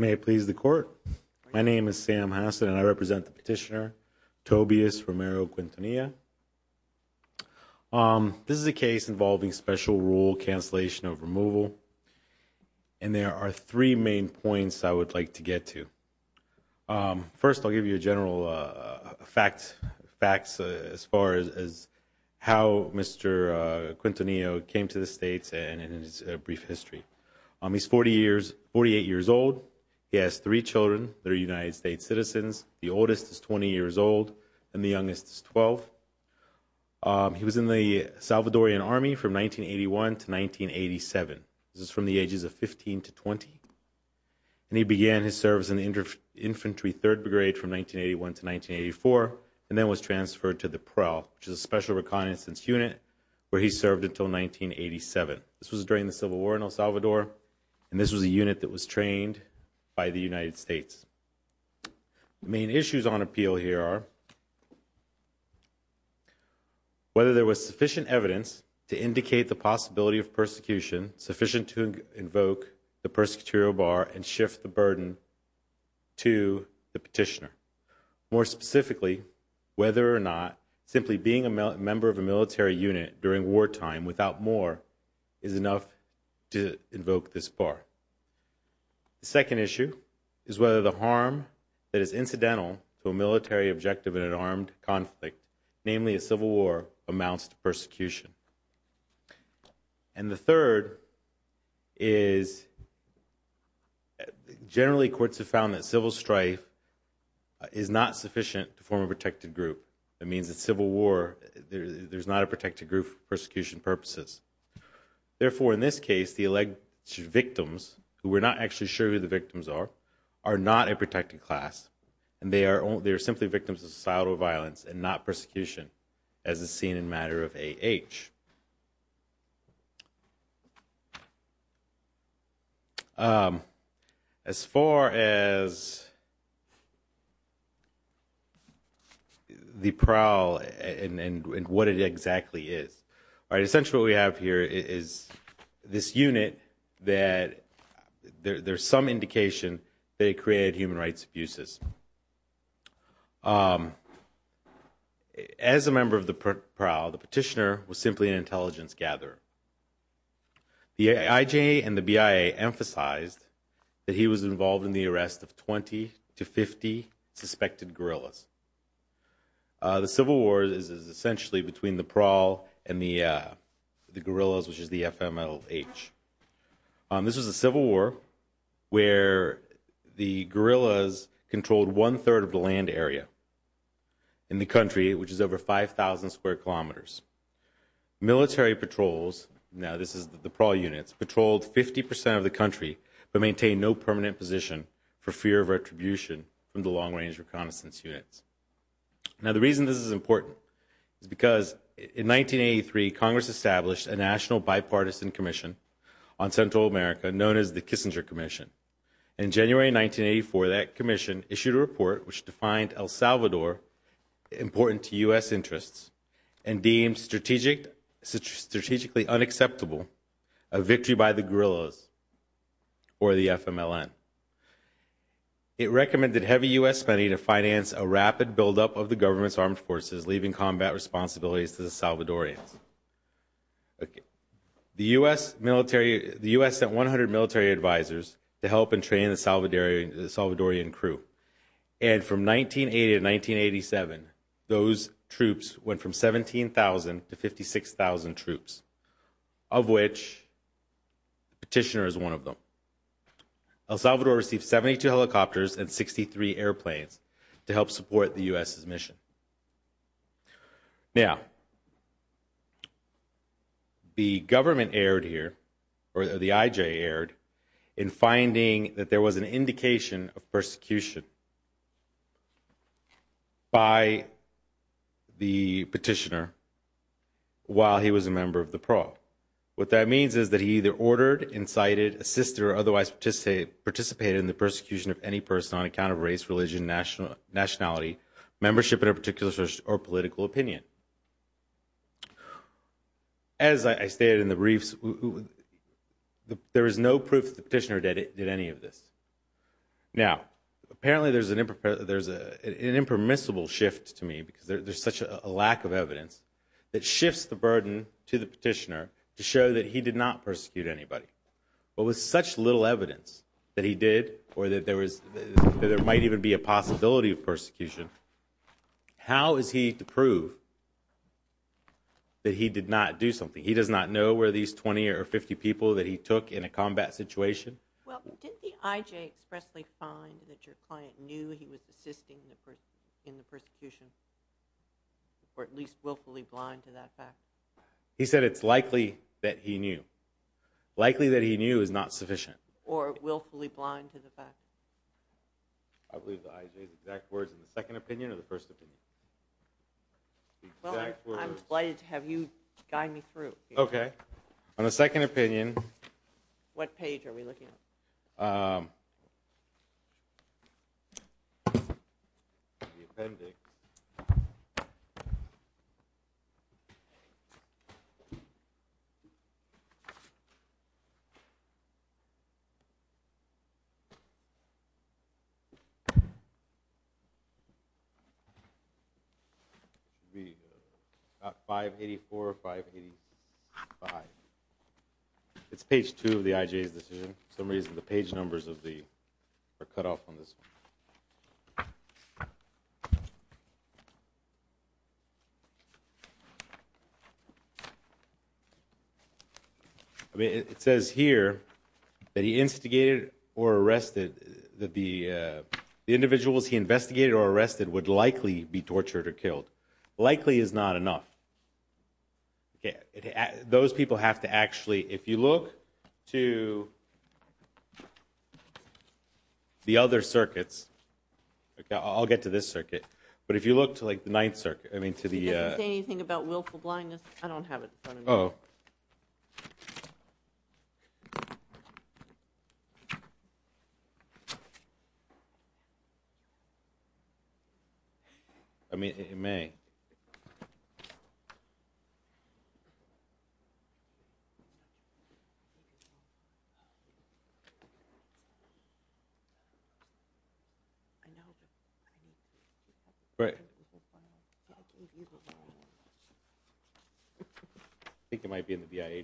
May it please the Court, my name is Sam Hassett and I represent the petitioner Tobias Romero Quitanilla. This is a case involving special rule cancellation of removal and there are three main points I would like to get to. First I'll give you a general facts as far as how Mr. Quintanilla came to the States and his brief history. He's 48 years old, he has three children that are United States citizens. The oldest is 20 years old and the youngest is 12. He was in the Salvadorian Army from 1981 to 1987. This is from the ages of 15 to 20 and he began his service in the infantry third grade from 1981 to 1984 and then was transferred to the Prel, which is a special reconnaissance unit where he served until 1987. This was during the Civil War in El Salvador and this was a unit that was trained by the United States. Main issues on appeal here are whether there was sufficient evidence to indicate the possibility of persecution, sufficient to invoke the persecutorial bar and shift the burden to the petitioner. More specifically, whether or not simply being a member of a military unit during wartime without more is enough to invoke this bar. The second issue is whether the harm that is incidental to a military objective in an And the third is generally courts have found that civil strife is not sufficient to form a protected group. That means that Civil War, there's not a protected group for persecution purposes. Therefore, in this case, the alleged victims, who we're not actually sure who the victims are, are not a protected class and they are simply victims of societal violence and not As far as the Prel and what it exactly is, essentially what we have here is this unit that there's some indication they created human rights abuses. As a member of the Prel, the petitioner was simply an intelligence gatherer. The IJ and the BIA emphasized that he was involved in the arrest of 20 to 50 suspected guerrillas. The Civil War is essentially between the Prel and the guerrillas, which is the FMLH. This was a civil war where the guerrillas controlled one-third of the land area in the country, which is over 5,000 square kilometers. Military patrols, now this is the Prel units, patrolled 50% of the country but maintained no permanent position for fear of retribution from the long-range reconnaissance units. Now the reason this is important is because in 1983, Congress established a national bipartisan commission on Central America known as the Kissinger Commission. In January 1984, that commission issued a report which defined El Salvador important to U.S. interests and deemed strategically unacceptable a victory by the guerrillas or the FMLN. It recommended heavy U.S. money to finance a rapid buildup of the government's armed forces, leaving combat responsibilities to the Salvadorians. The U.S. military, the U.S. sent 100 military advisors to help and train the Salvadorian crew. And from 1980 to 1987, those troops went from 17,000 to 56,000 troops, of which the Petitioner is one of them. El Salvador received 72 helicopters and 63 airplanes to help support the U.S.'s mission. Now, the government erred here, or the I.J. erred, in finding that there was an indication of persecution by the Petitioner while he was a member of the PRAW. What that means is that he either ordered, incited, assisted, or otherwise participated in the persecution of any person on account of race, religion, nationality, membership in a particular church, or political opinion. As I stated in the briefs, there is no proof that the Petitioner did any of this. Now, apparently there's an impermissible shift to me, because there's such a lack of evidence, that shifts the burden to the Petitioner to show that he did not persecute anybody. But with such little evidence that he did, or that there was, that there might even be a possibility of persecution, how is he to prove that he did not do something? He does not know where these 20 or 50 people that he took in a combat situation? Well, did the I.J. expressly find that your client knew he was assisting in the persecution, or at least willfully blind to that fact? He said it's likely that he knew. Likely that he knew is not sufficient. Or willfully blind to the fact. I believe the I.J.'s exact words in the second opinion or the first opinion? Well, I'm delighted to have you guide me through. Okay. On the second opinion. What page are we looking at? The appendix. Okay. About 584 or 585. It's page two of the I.J.'s decision. For some reason the page numbers are cut off on this one. I mean, it says here that he instigated or arrested, that the individuals he investigated or arrested would likely be tortured or killed. Likely is not enough. Those people have to actually, if you look to the other circuits, I'll get to this circuit, but if you look to like the ninth circuit, I mean to the... It doesn't say anything about willful blindness. I don't have it in front of me. Oh. Okay. I mean, it may. Right. Okay. I think it might be in the BIA.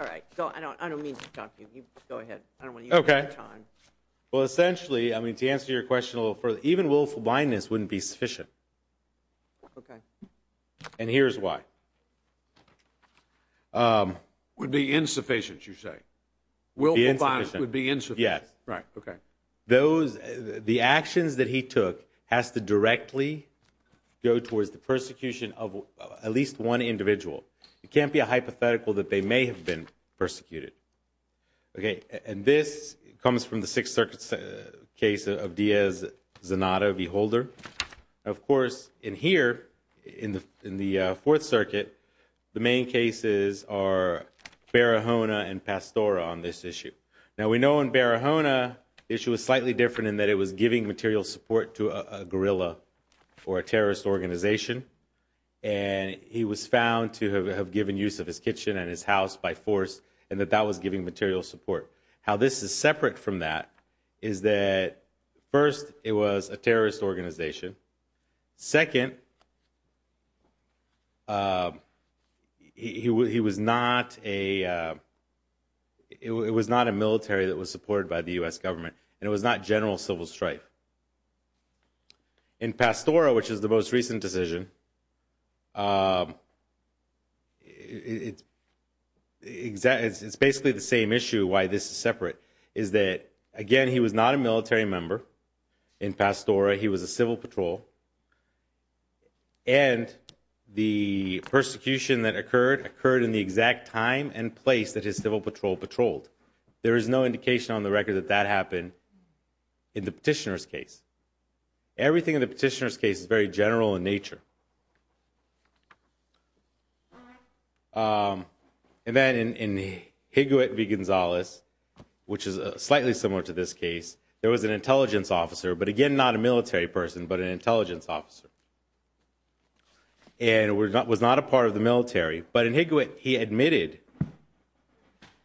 All right. I don't mean to talk to you. Go ahead. I don't want to use your time. Okay. Well, essentially, I mean, to answer your question a little further, even willful blindness wouldn't be sufficient. Okay. Would be insufficient, you say. Be insufficient. Willful blindness would be insufficient. Yes. Right. Okay. Those, the actions that he took has to directly go towards the persecution of at least one individual. It can't be a hypothetical that they may have been persecuted. Okay. And this comes from the sixth circuit case of Diaz-Zanata v. Holder. Of course, in here, in the fourth circuit, the main cases are Barahona and Pastora on this issue. Now, we know in Barahona, the issue was slightly different in that it was giving material support to a guerrilla or a terrorist organization, and he was found to have given use of his kitchen and his house by force, and that that was giving material support. How this is separate from that is that, first, it was a terrorist organization. Second, he was not a military that was supported by the U.S. government, and it was not general civil strife. In Pastora, which is the most recent decision, it's basically the same issue why this is separate, is that, again, he was not a military member in Pastora. He was a civil patrol, and the persecution that occurred occurred in the exact time and place that his civil patrol patrolled. There is no indication on the record that that happened in the petitioner's case. Everything in the petitioner's case is very general in nature. And then in Higuet v. Gonzalez, which is slightly similar to this case, there was an intelligence officer, but again, not a military person, but an intelligence officer, and was not a part of the military. But in Higuet, he admitted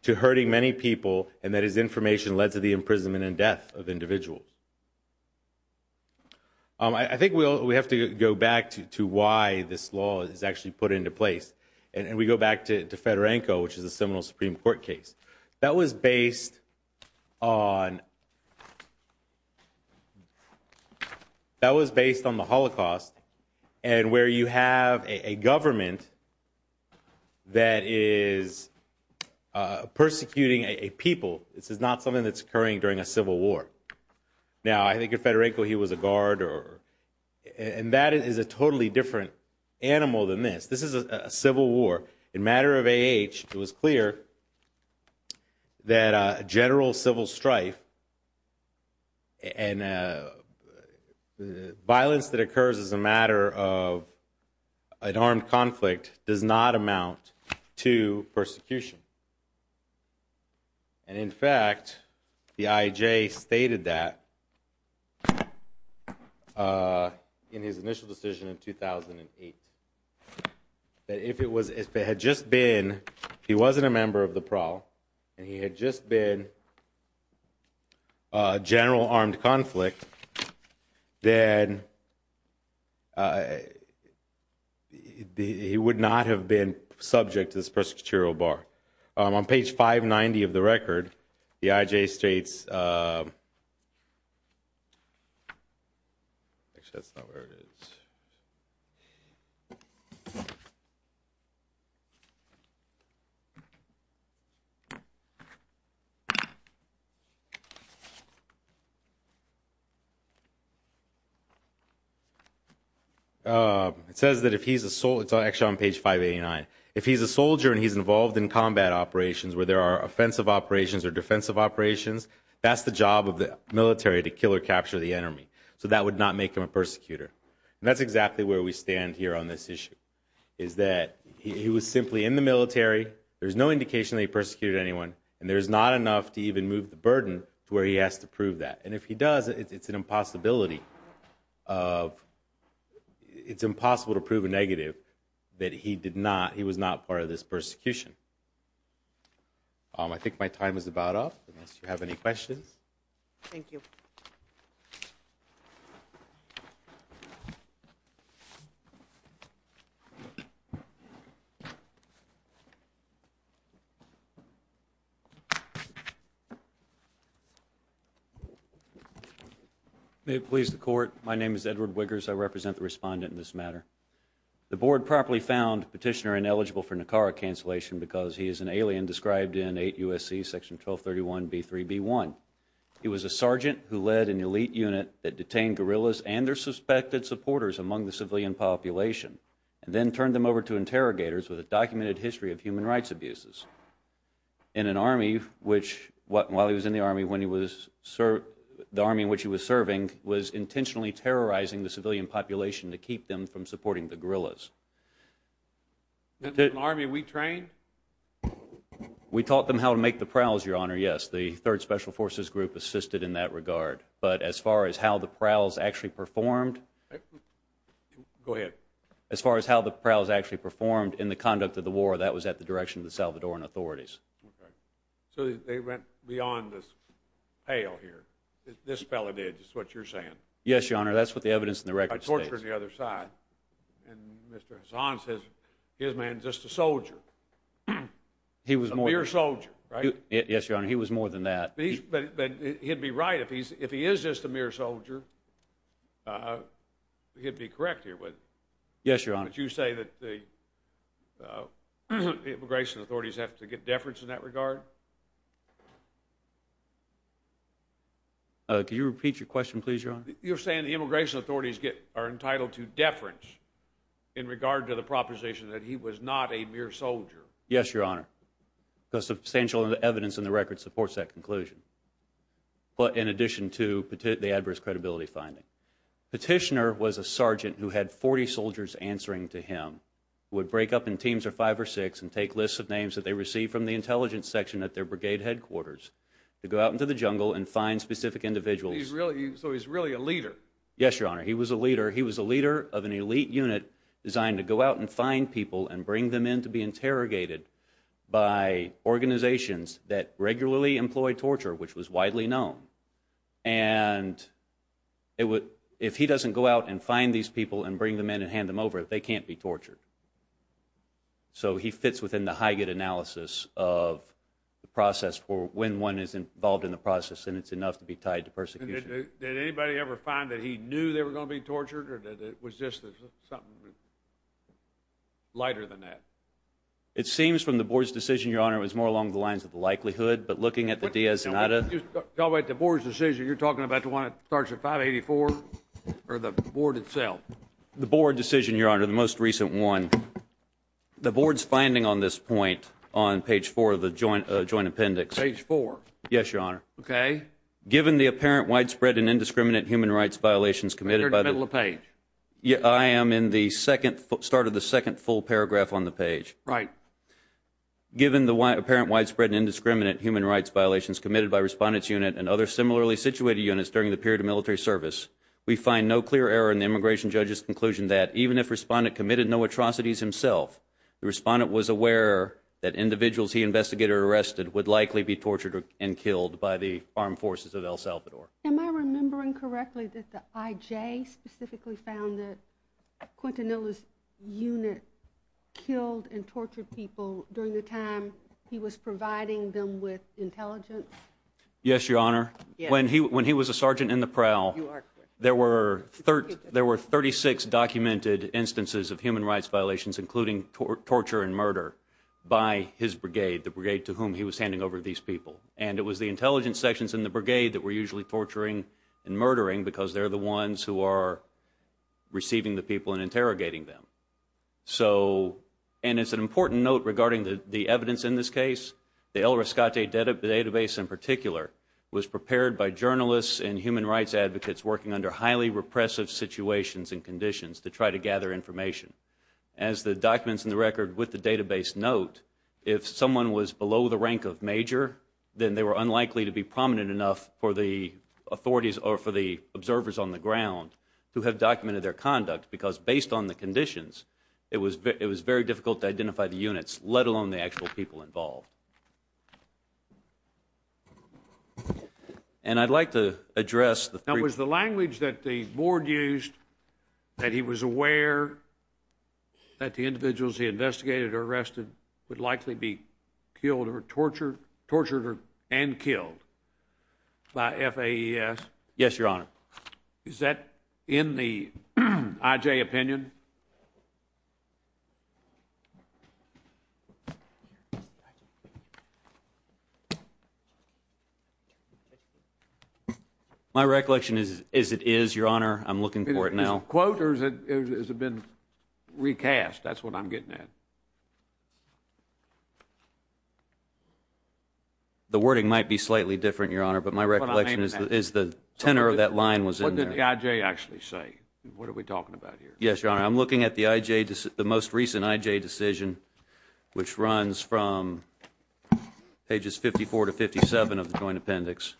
to hurting many people and that his information led to the imprisonment and death of individuals. I think we have to go back to why this law is actually put into place, and we go back to Fedorenko, which is a seminal Supreme Court case. That was based on the Holocaust, and where you have a government that is persecuting a people. This is not something that's occurring during a civil war. Now, I think in Fedorenko, he was a guard, and that is a totally different animal than this. This is a civil war. In matter of AH, it was clear that general civil strife and violence that occurs as a matter of an armed conflict does not amount to persecution. And in fact, the IJ stated that in his initial decision in 2008, that if he wasn't a member of the PRAL, and he had just been a general armed conflict, then he would not have been subject to this prosecutorial bar. On page 590 of the record, the IJ states, it says that if he's a sole, it's actually on page 589, if he's a soldier and he's involved in combat operations where there are offensive operations or defensive operations, that's the job of the military to kill or capture the enemy. So that would not make him a persecutor. And that's exactly where we stand here on this issue, is that he was simply in the military, there's no indication that he persecuted anyone, and there's not enough to even move the burden to where he has to prove that. And if he does, it's an impossibility of, it's impossible to prove a negative that he did not, he was not part of this persecution. I think my time is about up, unless you have any questions. Thank you. May it please the Court. My name is Edward Wiggers. I represent the respondent in this matter. The Board properly found Petitioner ineligible for NACARA cancellation because he is an alien described in 8 U.S.C. section 1231b3b1. He was a sergeant who led an elite unit that detained guerrillas and their suspected supporters among the civilian population, and then turned them over to interrogators with a documented history of human rights abuses. In an army, which, while he was in the army, when he was, the army in which he was serving was intentionally terrorizing the civilian population to keep them from supporting the guerrillas. Was that an army we trained? We taught them how to make the prowls, Your Honor, yes. The 3rd Special Forces Group assisted in that regard. But as far as how the prowls actually performed. Go ahead. As far as how the prowls actually performed in the conduct of the war, that was at the direction of the Salvadoran authorities. Okay. So they went beyond this pale here. This fella did, is what you're saying. Yes, Your Honor, that's what the evidence in the record states. Tortured on the other side. And Mr. Hassan says his man's just a soldier. He was more. A mere soldier, right? Yes, Your Honor, he was more than that. But he'd be right if he is just a mere soldier. He'd be correct here. Yes, Your Honor. But you say that the immigration authorities have to get deference in that regard? Could you repeat your question, please, Your Honor? You're saying the immigration authorities are entitled to deference in regard to the proposition that he was not a mere soldier. Yes, Your Honor. The substantial evidence in the record supports that conclusion. But in addition to the adverse credibility finding. Petitioner was a sergeant who had 40 soldiers answering to him. Who would break up in teams of five or six and take lists of names that they received from the intelligence section at their brigade headquarters. To go out into the jungle and find specific individuals. So he's really a leader? Yes, Your Honor. He was a leader. He was a leader of an elite unit designed to go out and find people and bring them in to be interrogated by organizations that regularly employed torture, which was widely known. And if he doesn't go out and find these people and bring them in and hand them over, they can't be tortured. So he fits within the high-gut analysis of the process for when one is involved in the process and it's enough to be tied to persecution. Did anybody ever find that he knew they were going to be tortured or that it was just something lighter than that? It seems from the board's decision, Your Honor, it was more along the lines of the likelihood. But looking at the Diaz-Zanada. No, wait. The board's decision, you're talking about the one that starts at 584 or the board itself? The board decision, Your Honor, the most recent one. The board's finding on this point on page four of the joint appendix. Page four? Yes, Your Honor. Okay. Given the apparent widespread and indiscriminate human rights violations committed by the. You're in the middle of the page. I am in the second, start of the second full paragraph on the page. Right. Given the apparent widespread and indiscriminate human rights violations committed by respondents unit and other similarly situated units during the period of military service, we find no clear error in the immigration judge's conclusion that even if respondent committed no atrocities himself, the respondent was aware that individuals he investigated or arrested would likely be tortured and killed by the armed forces of El Salvador. Am I remembering correctly that the IJ specifically found that Quintanilla's unit killed and tortured people during the time he was providing them with intelligence? Yes, Your Honor. When he was a sergeant in the Prowl. You are correct. There were 36 documented instances of human rights violations, including torture and murder by his brigade, the brigade to whom he was handing over these people. And it was the intelligence sections in the brigade that were usually torturing and murdering because they're the ones who are receiving the people and interrogating them. So, and it's an important note regarding the evidence in this case. The El Rescate database in particular was prepared by journalists and human rights advocates working under highly repressive situations and conditions to try to gather information. As the documents in the record with the database note, if someone was below the rank of major, then they were unlikely to be prominent enough for the authorities or for the observers on the ground to have documented their conduct because based on the conditions, it was very difficult to identify the units, let alone the actual people involved. And I'd like to address the three... Now, was the language that the board used that he was aware that the individuals he investigated or arrested would likely be killed or tortured, tortured and killed by FAES? Yes, Your Honor. Is that in the I.J. opinion? My recollection is it is, Your Honor. I'm looking for it now. Is it a quote or has it been recast? That's what I'm getting at. The wording might be slightly different, Your Honor, but my recollection is the tenor of that line was in there. What did the I.J. actually say? What are we talking about here? Yes, Your Honor. I'm looking at the most recent I.J. decision, which runs from pages 54 to 57 of the Joint Appendix.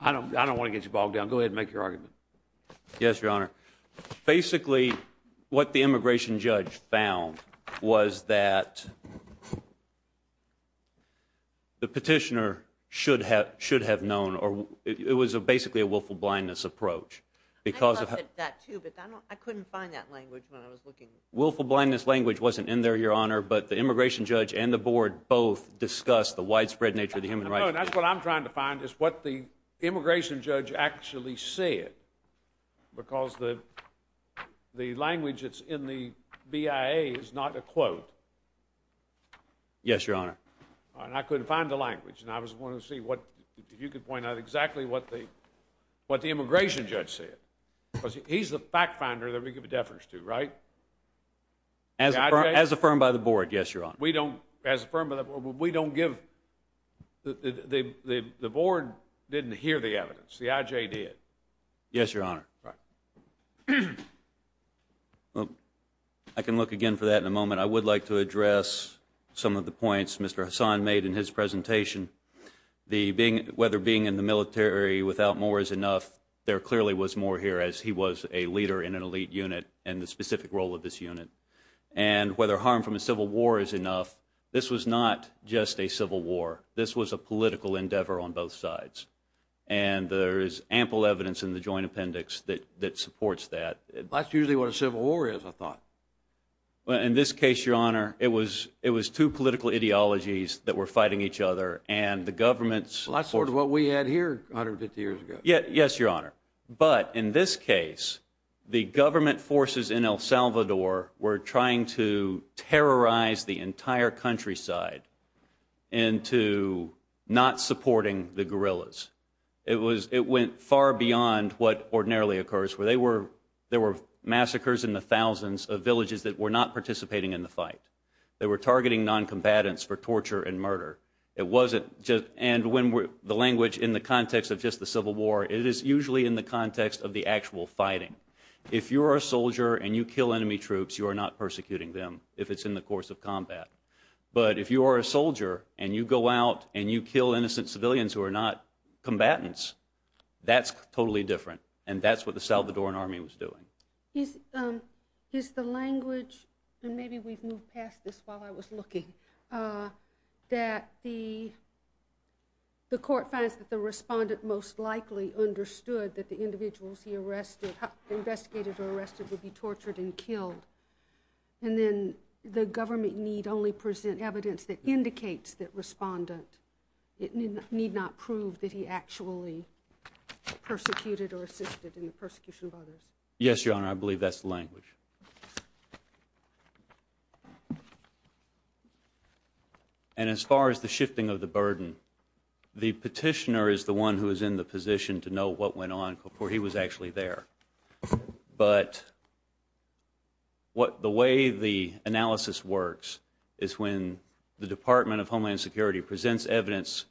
I don't want to get you bogged down. Go ahead and make your argument. Yes, Your Honor. Basically, what the immigration judge found was that the petitioner should have known or it was basically a willful blindness approach. I love that, too, but I couldn't find that language when I was looking. Willful blindness language wasn't in there, Your Honor, but the immigration judge and the board both discussed the widespread nature of the human rights issue. That's what I'm trying to find is what the immigration judge actually said because the language that's in the BIA is not a quote. Yes, Your Honor. I couldn't find the language, and I was wondering if you could point out exactly what the immigration judge said. He's the fact finder that we give deference to, right? As affirmed by the board, yes, Your Honor. We don't give – the board didn't hear the evidence. The I.J. did. Yes, Your Honor. I can look again for that in a moment. I would like to address some of the points Mr. Hassan made in his presentation. Whether being in the military without more is enough, there clearly was more here as he was a leader in an elite unit and the specific role of this unit. And whether harm from a civil war is enough, this was not just a civil war. This was a political endeavor on both sides. And there is ample evidence in the Joint Appendix that supports that. That's usually what a civil war is, I thought. In this case, Your Honor, it was two political ideologies that were fighting each other, and the government's – Well, that's sort of what we had here 150 years ago. Yes, Your Honor. But in this case, the government forces in El Salvador were trying to terrorize the entire countryside into not supporting the guerrillas. It was – it went far beyond what ordinarily occurs, where they were – there were massacres in the thousands of villages that were not participating in the fight. They were targeting noncombatants for torture and murder. It wasn't just – and when the language in the context of just the civil war, it is usually in the context of the actual fighting. If you're a soldier and you kill enemy troops, you are not persecuting them if it's in the course of combat. But if you are a soldier and you go out and you kill innocent civilians who are not combatants, that's totally different, and that's what the Salvadoran Army was doing. Is the language – and maybe we've moved past this while I was looking – that the court finds that the respondent most likely understood that the individuals he arrested, investigated or arrested, would be tortured and killed, and then the government need only present evidence that indicates that respondent need not prove that he actually persecuted or assisted in the persecution of others? Yes, Your Honor, I believe that's the language. And as far as the shifting of the burden, the petitioner is the one who is in the position to know what went on before he was actually there. But the way the analysis works is when the Department of Homeland Security presents evidence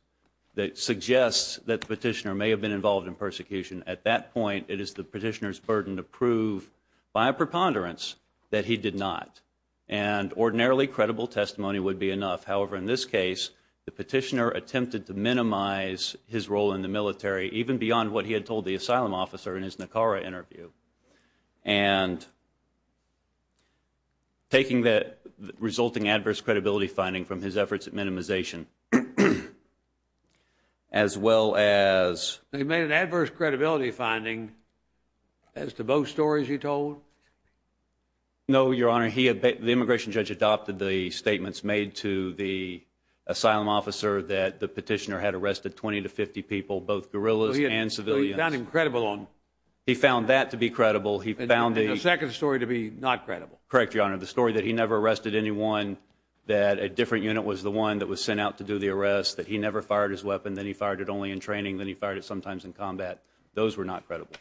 that suggests that the petitioner may have been involved in persecution. At that point, it is the petitioner's burden to prove by a preponderance that he did not. And ordinarily, credible testimony would be enough. However, in this case, the petitioner attempted to minimize his role in the military, even beyond what he had told the asylum officer in his Nicara interview, and taking the resulting adverse credibility finding from his efforts at minimization, as well as – He made an adverse credibility finding as to both stories he told? No, Your Honor. The immigration judge adopted the statements made to the asylum officer that the petitioner had arrested 20 to 50 people, both guerrillas and civilians. So he found him credible on – He found that to be credible. He found the – And the second story to be not credible? Correct, Your Honor. The story that he never arrested anyone, that a different unit was the one that was sent out to do the arrest, that he never fired his weapon, then he fired it only in training, then he fired it sometimes in combat. Those were not credible.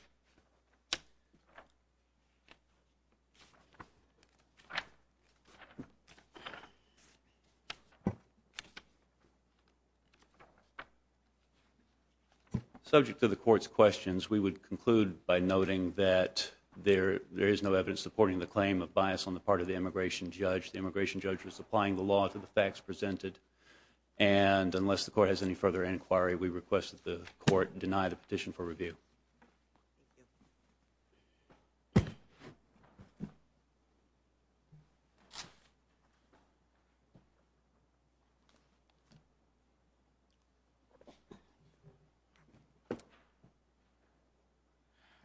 Subject to the Court's questions, we would conclude by noting that there is no evidence supporting the claim of bias on the part of the immigration judge. The immigration judge was applying the law to the facts presented, and unless the Court has any further inquiry, we request that the Court deny the petition for review.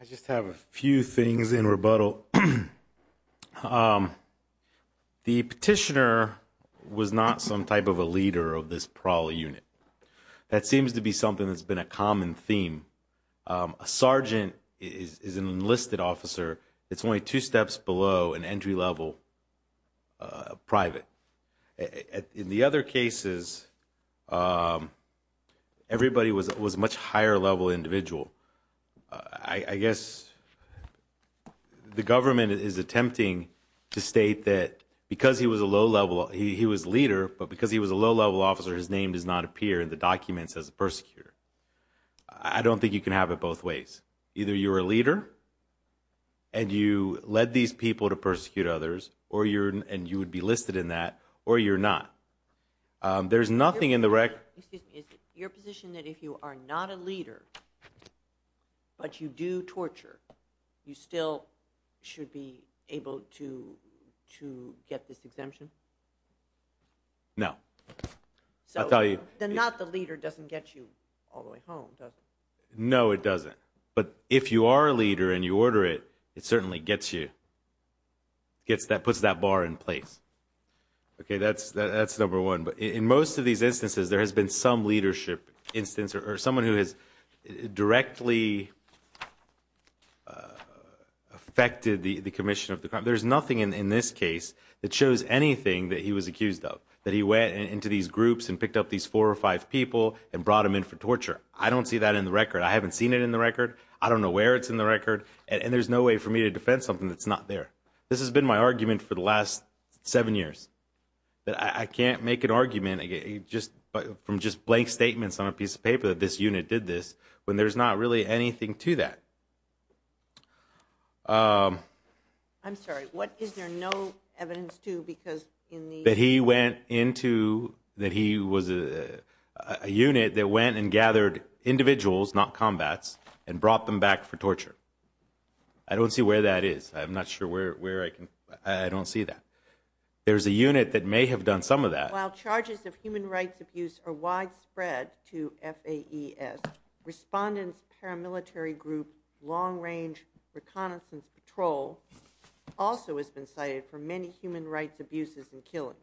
I just have a few things in rebuttal. So the petitioner was not some type of a leader of this parole unit. That seems to be something that's been a common theme. A sergeant is an enlisted officer. It's only two steps below an entry-level private. In the other cases, everybody was a much higher-level individual. I guess the government is attempting to state that because he was a low-level, he was a leader, but because he was a low-level officer, his name does not appear in the documents as a persecutor. I don't think you can have it both ways. Either you're a leader and you led these people to persecute others, and you would be listed in that, or you're not. There's nothing in the record. Is it your position that if you are not a leader but you do torture, you still should be able to get this exemption? No. Then not the leader doesn't get you all the way home, does it? No, it doesn't. But if you are a leader and you order it, it certainly gets you, puts that bar in place. Okay, that's number one. But in most of these instances, there has been some leadership instance or someone who has directly affected the commission. There's nothing in this case that shows anything that he was accused of, that he went into these groups and picked up these four or five people and brought them in for torture. I don't see that in the record. I haven't seen it in the record. I don't know where it's in the record, and there's no way for me to defend something that's not there. This has been my argument for the last seven years, that I can't make an argument from just blank statements on a piece of paper that this unit did this when there's not really anything to that. I'm sorry, what is there no evidence to because in the – That he went into – that he was a unit that went and gathered individuals, not combats, and brought them back for torture. I don't see where that is. I'm not sure where I can – I don't see that. There's a unit that may have done some of that. While charges of human rights abuse are widespread to FAES, Respondents Paramilitary Group Long-Range Reconnaissance Patrol also has been cited for many human rights abuses and killings.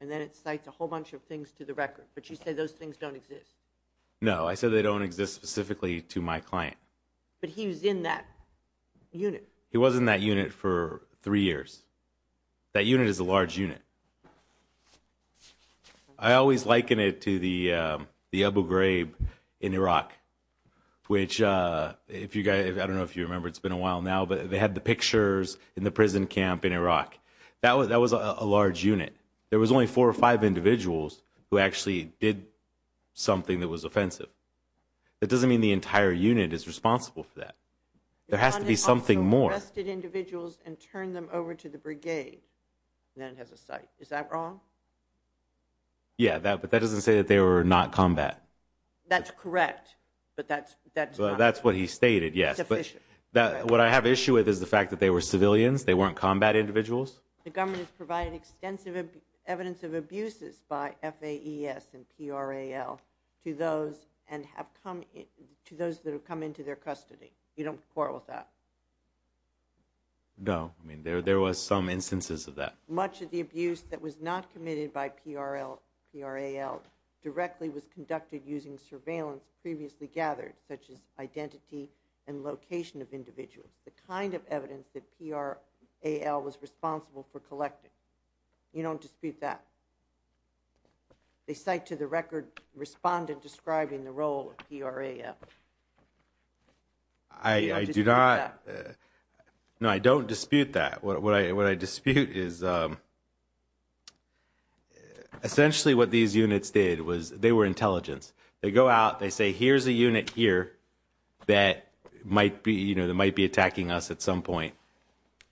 And then it cites a whole bunch of things to the record. But you say those things don't exist. No, I said they don't exist specifically to my client. But he was in that unit. He was in that unit for three years. That unit is a large unit. I always liken it to the Abu Ghraib in Iraq, which if you guys – I don't know if you remember. It's been a while now. But they had the pictures in the prison camp in Iraq. That was a large unit. There was only four or five individuals who actually did something that was offensive. That doesn't mean the entire unit is responsible for that. There has to be something more. The gun has also arrested individuals and turned them over to the brigade. And then it has a cite. Is that wrong? Yeah, but that doesn't say that they were not combat. That's correct, but that's not sufficient. That's what he stated, yes. What I have an issue with is the fact that they were civilians. They weren't combat individuals. The government has provided extensive evidence of abuses by FAES and PRAL to those that have come into their custody. You don't quarrel with that? No. There were some instances of that. Much of the abuse that was not committed by PRAL directly was conducted using surveillance previously gathered, such as identity and location of individuals, the kind of evidence that PRAL was responsible for collecting. You don't dispute that? They cite to the record respondent describing the role of PRAL. I do not. No, I don't dispute that. What I dispute is essentially what these units did was they were intelligence. They go out. They say, here's a unit here that might be attacking us at some point.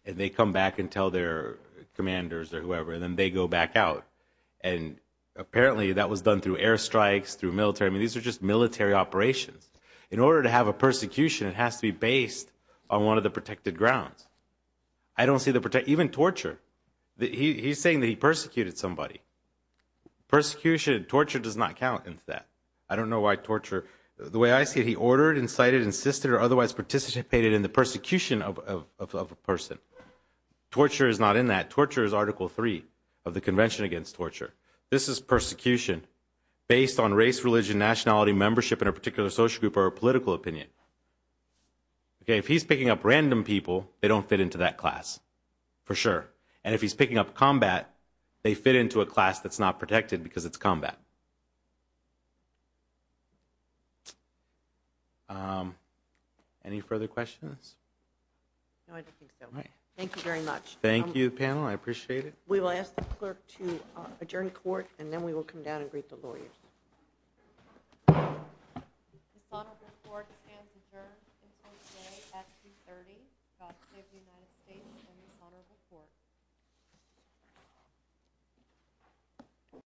They come back and tell their commanders or whoever, and then they go back out. Apparently, that was done through airstrikes, through military. These are just military operations. In order to have a persecution, it has to be based on one of the protected grounds. I don't see even torture. He's saying that he persecuted somebody. Persecution and torture does not count into that. I don't know why torture. The way I see it, he ordered, incited, insisted, or otherwise participated in the persecution of a person. Torture is not in that. Torture is Article 3 of the Convention Against Torture. This is persecution based on race, religion, nationality, membership in a particular social group, or a political opinion. If he's picking up random people, they don't fit into that class, for sure. If he's picking up combat, they fit into a class that's not protected because it's combat. Any further questions? No, I don't think so. Thank you very much. Thank you, panel. I appreciate it. We will ask the clerk to adjourn court, and then we will come down and greet the lawyers. Dishonorable Court stands adjourned until today at 2.30. God save the United States and dishonorable court.